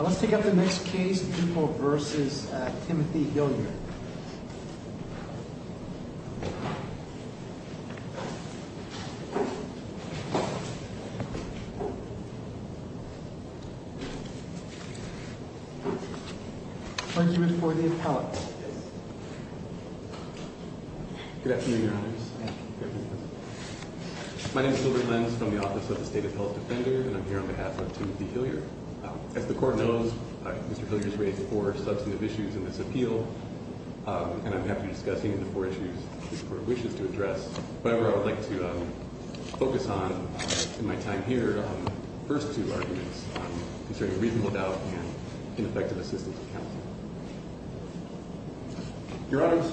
Let's take up the next case, Dupo v. Timothy Hillyer. Argument for the appellate. Good afternoon, Your Honors. My name is Gilbert Lenz from the Office of the State Appellate Defender, and I'm here on behalf of Timothy Hillyer. As the Court knows, Mr. Hillyer has raised four substantive issues in this appeal, and I'm happy to discuss any of the four issues the Court wishes to address. However, I would like to focus on, in my time here, the first two arguments concerning reasonable doubt and ineffective assistance of counsel. Your Honors,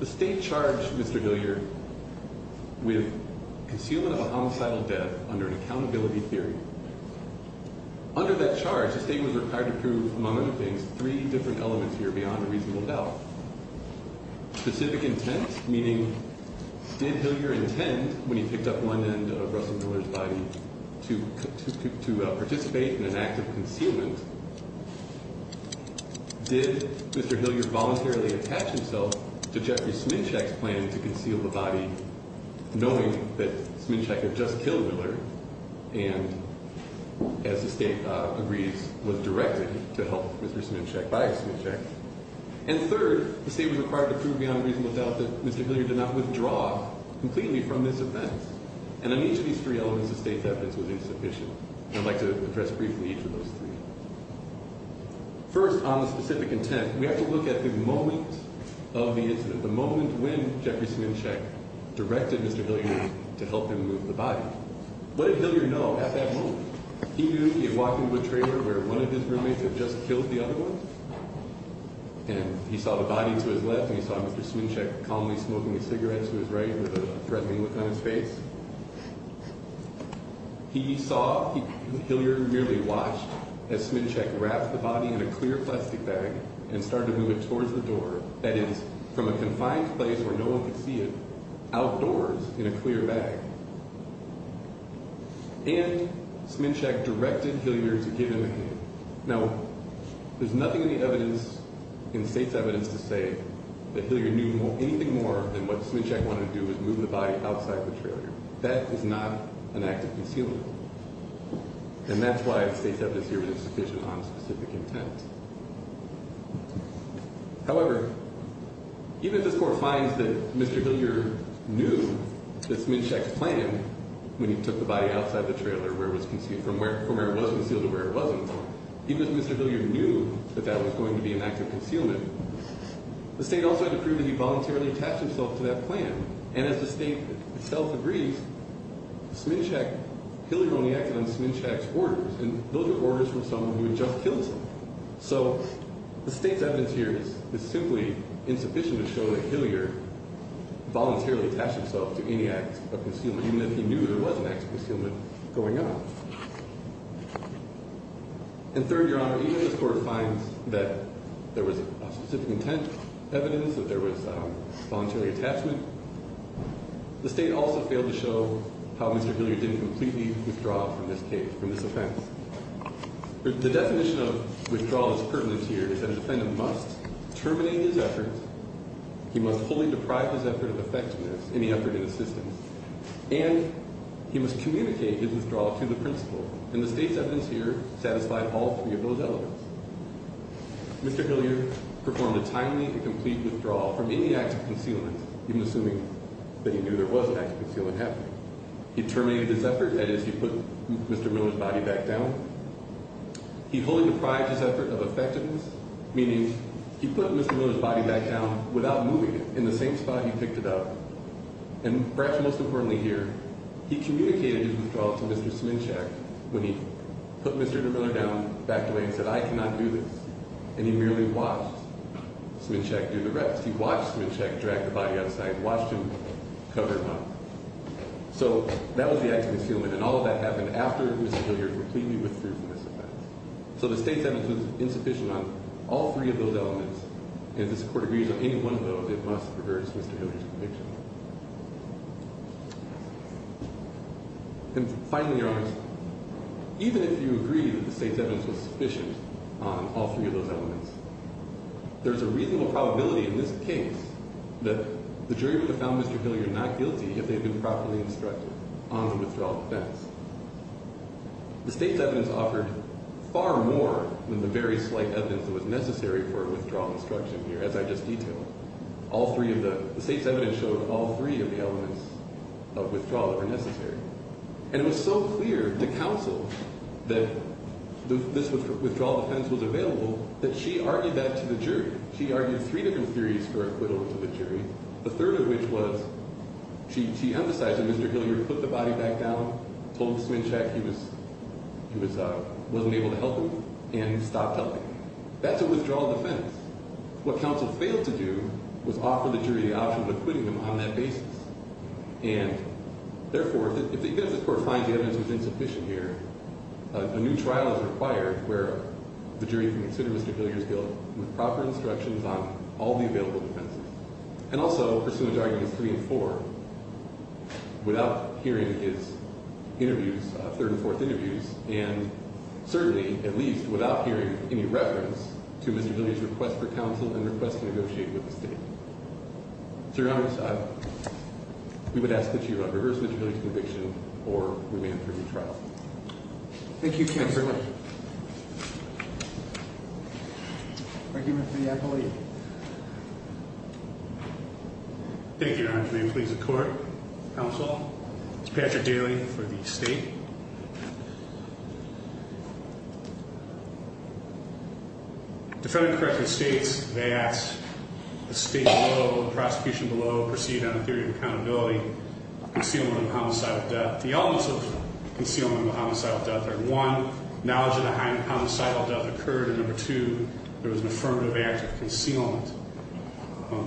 the State charged Mr. Hillyer with concealment of a homicidal death under an accountability theory. Under that charge, the State was required to prove, among other things, three different elements here beyond a reasonable doubt. Specific intent, meaning, did Hillyer intend, when he picked up one end of Russell Miller's body, to participate in an act of concealment? Did Mr. Hillyer voluntarily attach himself to Jeffrey Sminshak's plan to conceal the body, knowing that Sminshak had just killed Miller and, as the State agrees, was directed to help Mr. Sminshak by Sminshak? And third, the State was required to prove beyond reasonable doubt that Mr. Hillyer did not withdraw completely from this event. And on each of these three elements, the State's evidence was insufficient. I'd like to address briefly each of those three. First, on the specific intent, we have to look at the moment of the incident, the moment when Jeffrey Sminshak directed Mr. Hillyer to help him move the body. What did Hillyer know at that moment? He knew he had walked into a trailer where one of his roommates had just killed the other one. And he saw the body to his left and he saw Mr. Sminshak calmly smoking a cigarette to his right with a threatening look on his face. He saw, Hillyer merely watched as Sminshak wrapped the body in a clear plastic bag and started to move it towards the door. That is, from a confined place where no one could see it, outdoors in a clear bag. And Sminshak directed Hillyer to give him a hand. Now, there's nothing in the evidence, in the State's evidence, to say that Hillyer knew anything more than what Sminshak wanted to do was move the body outside the trailer. That is not an act of concealment. And that's why the State's evidence here isn't sufficient on a specific intent. However, even if this Court finds that Mr. Hillyer knew that Sminshak's plan, when he took the body outside the trailer, from where it was concealed to where it wasn't, even if Mr. Hillyer knew that that was going to be an act of concealment, the State also had to prove that he voluntarily attached himself to that plan. And as the State itself agrees, Sminshak, Hillyer only acted on Sminshak's orders, and those were orders from someone who had just killed him. So the State's evidence here is simply insufficient to show that Hillyer voluntarily attached himself to any act of concealment, even if he knew there was an act of concealment going on. And third, Your Honor, even if this Court finds that there was a specific intent evidence, that there was a voluntary attachment, the State also failed to show how Mr. Hillyer didn't completely withdraw from this case, from this offense. The definition of withdrawal that's pertinent here is that a defendant must terminate his efforts, he must fully deprive his effort of effectiveness, any effort in the system, and he must communicate his withdrawal to the principal. And the State's evidence here satisfied all three of those elements. Mr. Hillyer performed a timely and complete withdrawal from any act of concealment, even assuming that he knew there was an act of concealment happening. He terminated his effort, that is, he put Mr. Miller's body back down. He fully deprived his effort of effectiveness, meaning he put Mr. Miller's body back down without moving it, in the same spot he picked it up, and perhaps most importantly here, he communicated his withdrawal to Mr. Sminshek when he put Mr. Miller down, backed away and said, I cannot do this, and he merely watched Sminshek do the rest. He watched Sminshek drag the body outside, watched him cover him up. So that was the act of concealment, and all of that happened after Mr. Hillyer completely withdrew from this offense. So the State's evidence was insufficient on all three of those elements, and if this Court agrees on any one of those, it must reverse Mr. Hillyer's conviction. And finally, Your Honors, even if you agree that the State's evidence was sufficient on all three of those elements, there's a reasonable probability in this case that the jury would have found Mr. Hillyer not guilty if they had been properly instructed on the withdrawal defense. The State's evidence offered far more than the very slight evidence that was necessary for a withdrawal instruction here, as I just detailed. All three of the, the State's evidence showed all three of the elements of withdrawal that were necessary. And it was so clear to counsel that this withdrawal defense was available that she argued that to the jury. She argued three different theories for acquittal to the jury, the third of which was, she, she emphasized that Mr. Hillyer put the body back down, told him to swing check, he was, he was, wasn't able to help him, and he stopped helping him. That's a withdrawal defense. What counsel failed to do was offer the jury the option of acquitting him on that basis. And, therefore, if the evidence, if the Court finds the evidence was insufficient here, a new trial is required where the jury can consider Mr. Hillyer's guilt with proper instructions on all the available defenses. And also, pursuant to arguments three and four, without hearing his interviews, third and fourth interviews, and certainly, at least, without hearing any reference to Mr. Hillyer's request for counsel and request to negotiate with the State. So, Your Honor, we would ask that you reverse Mr. Hillyer's conviction or remand him for a new trial. Thank you, counsel. Thank you very much. Thank you, Mr. Yackel-Lee. Thank you, Your Honor. May it please the Court, counsel. This is Patrick Daly for the State. Defendant correctly states that the State below, the prosecution below, proceed on a theory of accountability, concealing the homicide of death. The elements of concealing the homicide of death are, one, knowledge that a homicidal death occurred, and, number two, there was an affirmative act of concealment.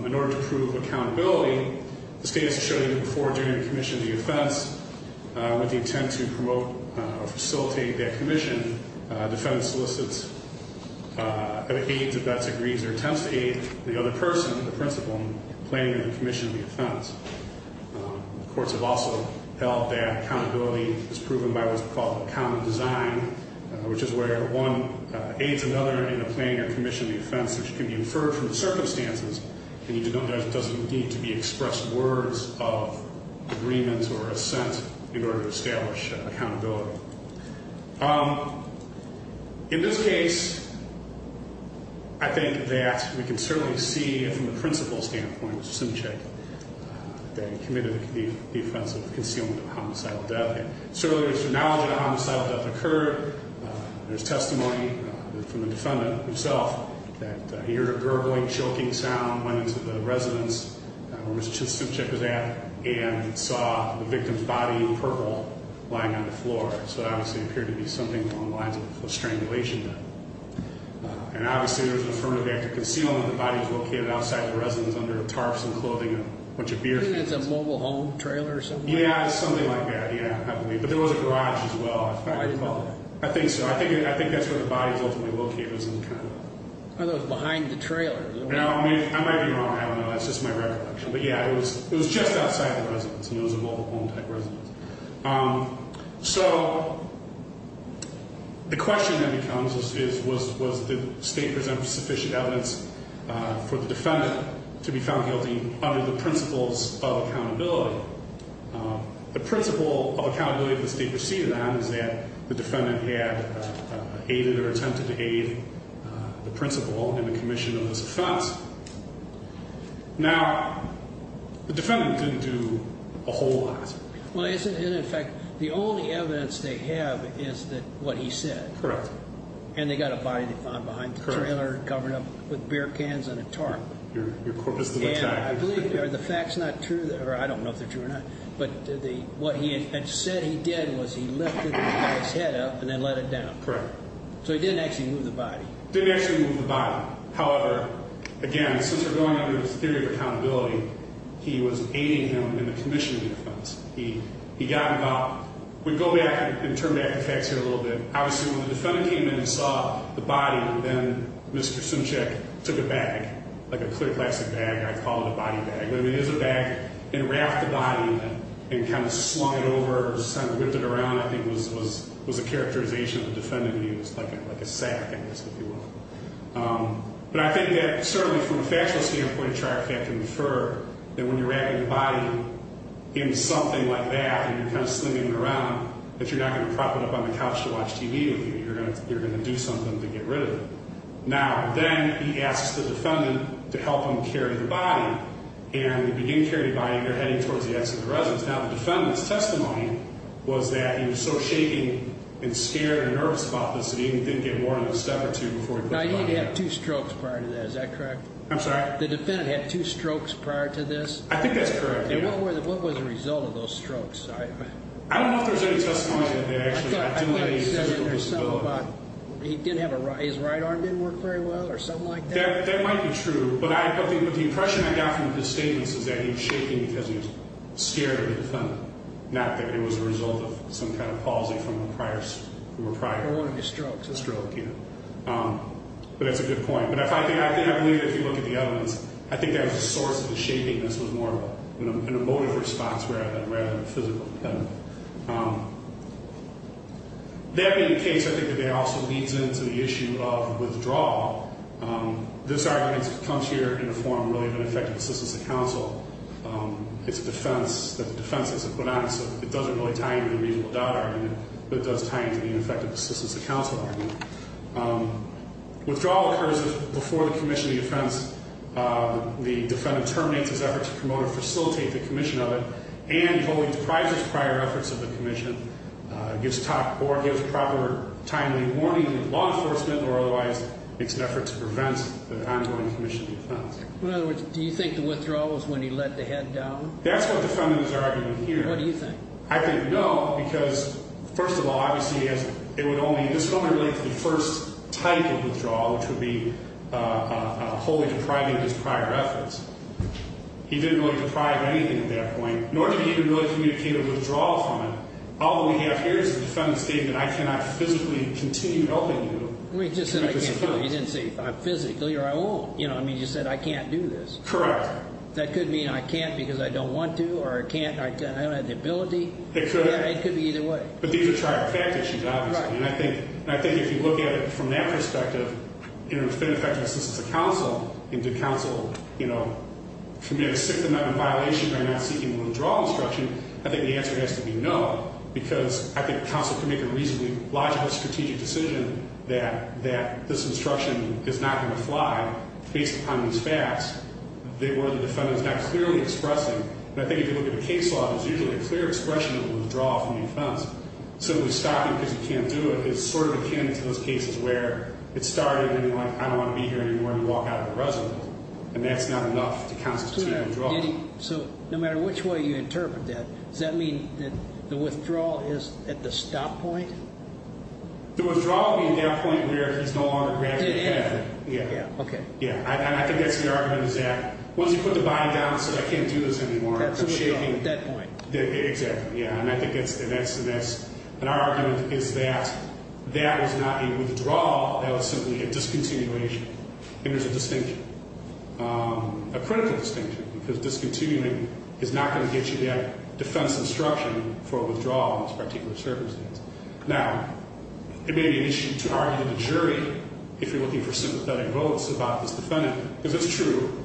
In order to prove accountability, the State has shown, even before doing a commission of the offense, with the intent to promote or facilitate that commission, defendant solicits, or aids, if that's agreed, their attempts to aid the other person, the principal, in planning the commission of the offense. The courts have also held that accountability is proven by what's called a common design, which is where one aids another in a planning or commission of the offense, which can be inferred from the circumstances, and there doesn't need to be expressed words of agreement or assent in order to establish accountability. In this case, I think that we can certainly see, from the principal's standpoint, Mr. Simchick, that he committed the offense of concealing a homicidal death, and certainly there's knowledge that a homicidal death occurred, there's testimony from the defendant himself that he heard a gurgling, choking sound, went into the residence where Mr. Simchick was at, and saw the victim's body in purple lying on the floor, so it obviously appeared to be something along the lines of strangulation. And obviously there was an affirmative act of concealing that the body was located outside the residence under tarps and clothing and a bunch of beer cans. Isn't it a mobile home trailer or something? Yeah, something like that, yeah, I believe. But there was a garage as well, if I recall. I think so, I think that's where the body was ultimately located. It was behind the trailer. I might be wrong, I don't know, that's just my recollection. But yeah, it was just outside the residence, and it was a mobile home type residence. So the question then becomes was the state present sufficient evidence for the defendant to be found guilty under the principles of accountability? The principle of accountability that the state proceeded on is that the defendant had aided or attempted to aid the principal in the commission of this offense. Now, the defendant didn't do a whole lot. Well, in fact, the only evidence they have is what he said. Correct. And they got a body they found behind the trailer, covered up with beer cans and a tarp. Your corpus of attack. And I believe, or the fact's not true, or I don't know if they're true or not, but what he had said he did was he lifted the guy's head up and then let it down. Correct. So he didn't actually move the body. Didn't actually move the body. However, again, since we're going under the theory of accountability, he was aiding him in the commission of the offense. He got him up. We go back and turn back the facts here a little bit. Obviously, when the defendant came in and saw the body, then Mr. Simchick took a bag, like a clear plastic bag, I call it a body bag, but it is a bag, and wrapped the body in it and kind of slung it over, kind of whipped it around, I think was a characterization the defendant used, like a sack, I guess, if you will. But I think that certainly from a factual standpoint, a trial can infer that when you're wrapping the body in something like that and you're kind of slinging it around, that you're not going to prop it up on the couch to watch TV with you. You're going to do something to get rid of it. Now, then he asks the defendant to help him carry the body, and if he didn't carry the body, they're heading towards the exit of the residence. Now, the defendant's testimony was that he was so shaking and scared and nervous about this that he didn't get more than a step or two before he put the body down. Now, he'd had two strokes prior to that. Is that correct? I'm sorry? The defendant had two strokes prior to this? I think that's correct, yeah. And what was the result of those strokes? I don't know if there was any testimony that actually delayed his physical disability. He didn't have a right – his right arm didn't work very well or something like that? That might be true, but the impression I got from his statements is that he was shaking because he was scared of the defendant, not that it was a result of some kind of palsy from the prior – Or one of the strokes. A stroke, yeah. But that's a good point. But I believe that if you look at the evidence, I think that was a source of the shaking. This was more of an emotive response rather than physical. Yeah. That being the case, I think that that also leads into the issue of withdrawal. This argument comes here in the form, really, of an effective assistance to counsel. It's a defense that the defense has put on it, so it doesn't really tie into the reasonable doubt argument, but it does tie into the ineffective assistance to counsel argument. Withdrawal occurs before the commission of the offense. The defendant terminates his efforts to promote or facilitate the commission of it and wholly deprives his prior efforts of the commission, gives proper timely warning to law enforcement, or otherwise makes an effort to prevent the ongoing commission of the offense. In other words, do you think the withdrawal was when he let the head down? That's what the defendant is arguing here. What do you think? I think no, because, first of all, obviously it would only relate to the first type of withdrawal, which would be wholly depriving of his prior efforts. He didn't really deprive anything at that point, nor did he even really communicate a withdrawal from it. All that we have here is the defendant stating that I cannot physically continue helping you. You didn't say physically or I won't. You said I can't do this. Correct. That could mean I can't because I don't want to or I don't have the ability. It could. It could be either way. But these are trifecta issues, obviously. And I think if you look at it from that perspective, in an effective assistance to counsel and to counsel, you know, can we have a sixth amendment violation by not seeking a withdrawal instruction, I think the answer has to be no, because I think counsel can make a reasonably logical strategic decision that this instruction is not going to fly based upon these facts where the defendant is not clearly expressing. But I think if you look at a case law, there's usually a clear expression of a withdrawal from the offense. So to stop him because he can't do it is sort of akin to those cases where it started and you're like, I don't want to be here anymore, and you walk out of the residence. And that's not enough to constitute a withdrawal. So no matter which way you interpret that, does that mean that the withdrawal is at the stop point? The withdrawal would be at that point where he's no longer granted the benefit. Yeah. Yeah. Okay. Yeah. And I think that's the argument is that once you put the body down and say I can't do this anymore, it's shaking. At that point. Exactly. Yeah. And I think that's the best. And our argument is that that was not a withdrawal. That was simply a discontinuation. And there's a distinction, a critical distinction, because discontinuing is not going to get you that defense instruction for withdrawal in this particular circumstance. Now, it may be an issue to argue to the jury if you're looking for sympathetic votes about this defendant, because it's true.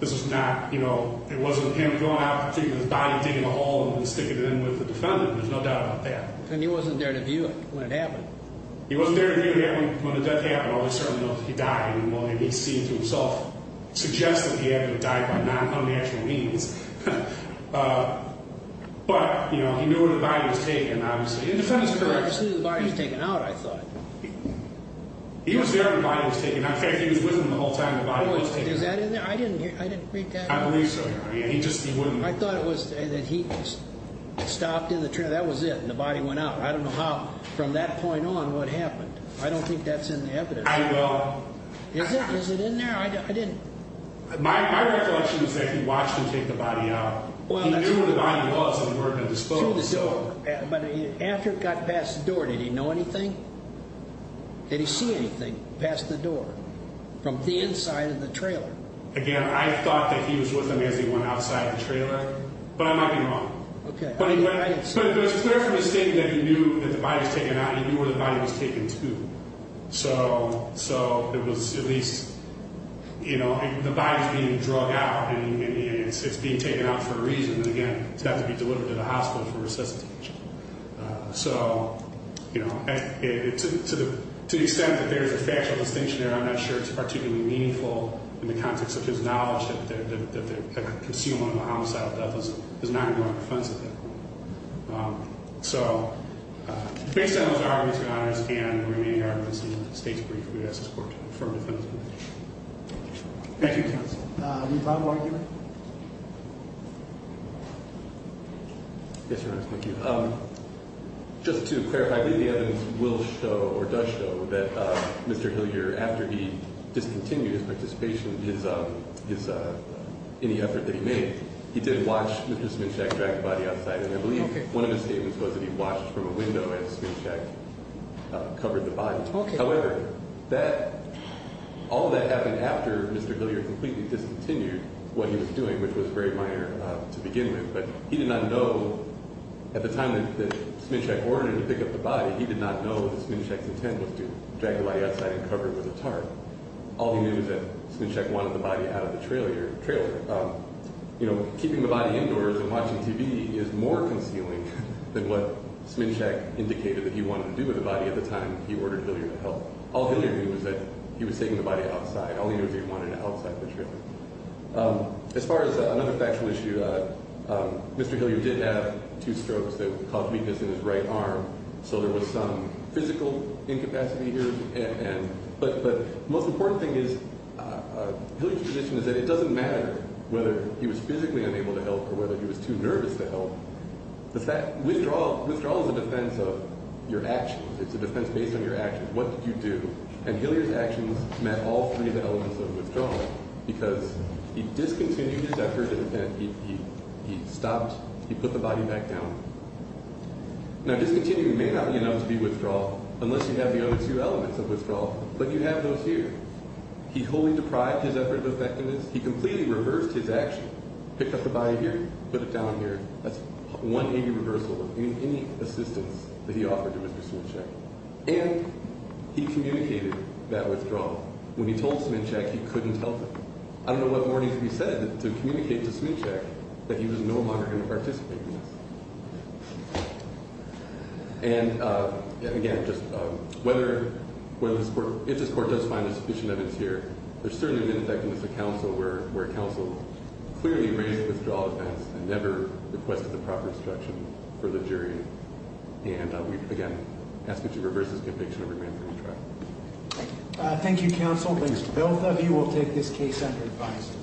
This is not, you know, it wasn't him going out and taking his body and digging a hole and then sticking it in with the defendant. There's no doubt about that. And he wasn't there to view it when it happened. He wasn't there to view it when the death happened. All he certainly knows is he died. And William, he's seen it to himself, suggests that he had to have died by non-unnatural means. But, you know, he knew where the body was taken, obviously. And the defendant's correct. I just knew the body was taken out, I thought. He was there when the body was taken out. In fact, he was with him the whole time the body was taken out. Is that in there? I didn't read that. I believe so. He just wouldn't. I thought it was that he stopped in the trail. That was it. And the body went out. I don't know how from that point on what happened. I don't think that's in the evidence. I will. Is it? Is it in there? I didn't. My recollection is that he watched him take the body out. He knew where the body was when he ordered the disclosure. Through the door. But after it got past the door, did he know anything? Did he see anything past the door from the inside of the trailer? Again, I thought that he was with him as he went outside the trailer. But I might be wrong. Okay. But it was clear from his statement that he knew that the body was taken out. He knew where the body was taken to. So it was at least, you know, the body is being drug out. And it's being taken out for a reason. And, again, it's got to be delivered to the hospital for resuscitation. So, you know, to the extent that there's a factual distinction there, I'm not sure it's particularly meaningful in the context of his knowledge that the concealment of a homicidal death is not going to be offensive there. So, based on those arguments, your Honor, I stand the remaining arguments in the State's brief for the U.S. Supreme Court to confirm the defendant's belief. Thank you, counsel. Do you have a final argument? Yes, Your Honor, thank you. Just to clarify, the evidence will show or does show that Mr. Hillier, after he discontinued his participation in any effort that he made, he did watch Mr. Sminshek drag the body outside. And I believe one of his statements was that he watched from a window as Sminshek covered the body. However, all that happened after Mr. Hillier completely discontinued what he was doing, which was very minor to begin with. But he did not know at the time that Sminshek ordered him to pick up the body, he did not know that Sminshek's intent was to drag the body outside and cover it with a tarp. All he knew was that Sminshek wanted the body out of the trailer. You know, keeping the body indoors and watching TV is more concealing than what Sminshek indicated that he wanted to do with the body at the time he ordered Hillier to help. All Hillier knew was that he was taking the body outside. All he knew was that he wanted it outside the trailer. As far as another factual issue, Mr. Hillier did have two strokes that caused weakness in his right arm, so there was some physical incapacity here. But the most important thing is, Hillier's position is that it doesn't matter whether he was physically unable to help or whether he was too nervous to help. Withdrawal is a defense of your actions. It's a defense based on your actions. What did you do? And Hillier's actions met all three of the elements of withdrawal because he discontinued his effort, he stopped, he put the body back down. Now, discontinuing may not be enough to be withdrawal, unless you have the other two elements of withdrawal, but you have those here. He wholly deprived his effort of effectiveness. He completely reversed his action, picked up the body here, put it down here. That's 180 reversal of any assistance that he offered to Mr. Sminshek. And he communicated that withdrawal. When he told Sminshek he couldn't help him. I don't know what more needs to be said to communicate to Sminshek that he was no longer going to participate in this. And, again, if this court does find a sufficient evidence here, there's certainly an ineffectiveness of counsel where counsel clearly raised the withdrawal defense and never requested the proper instruction for the jury. And we, again, ask that you reverse this conviction and remain free of trial. Thank you, counsel. Both of you will take this case under advice.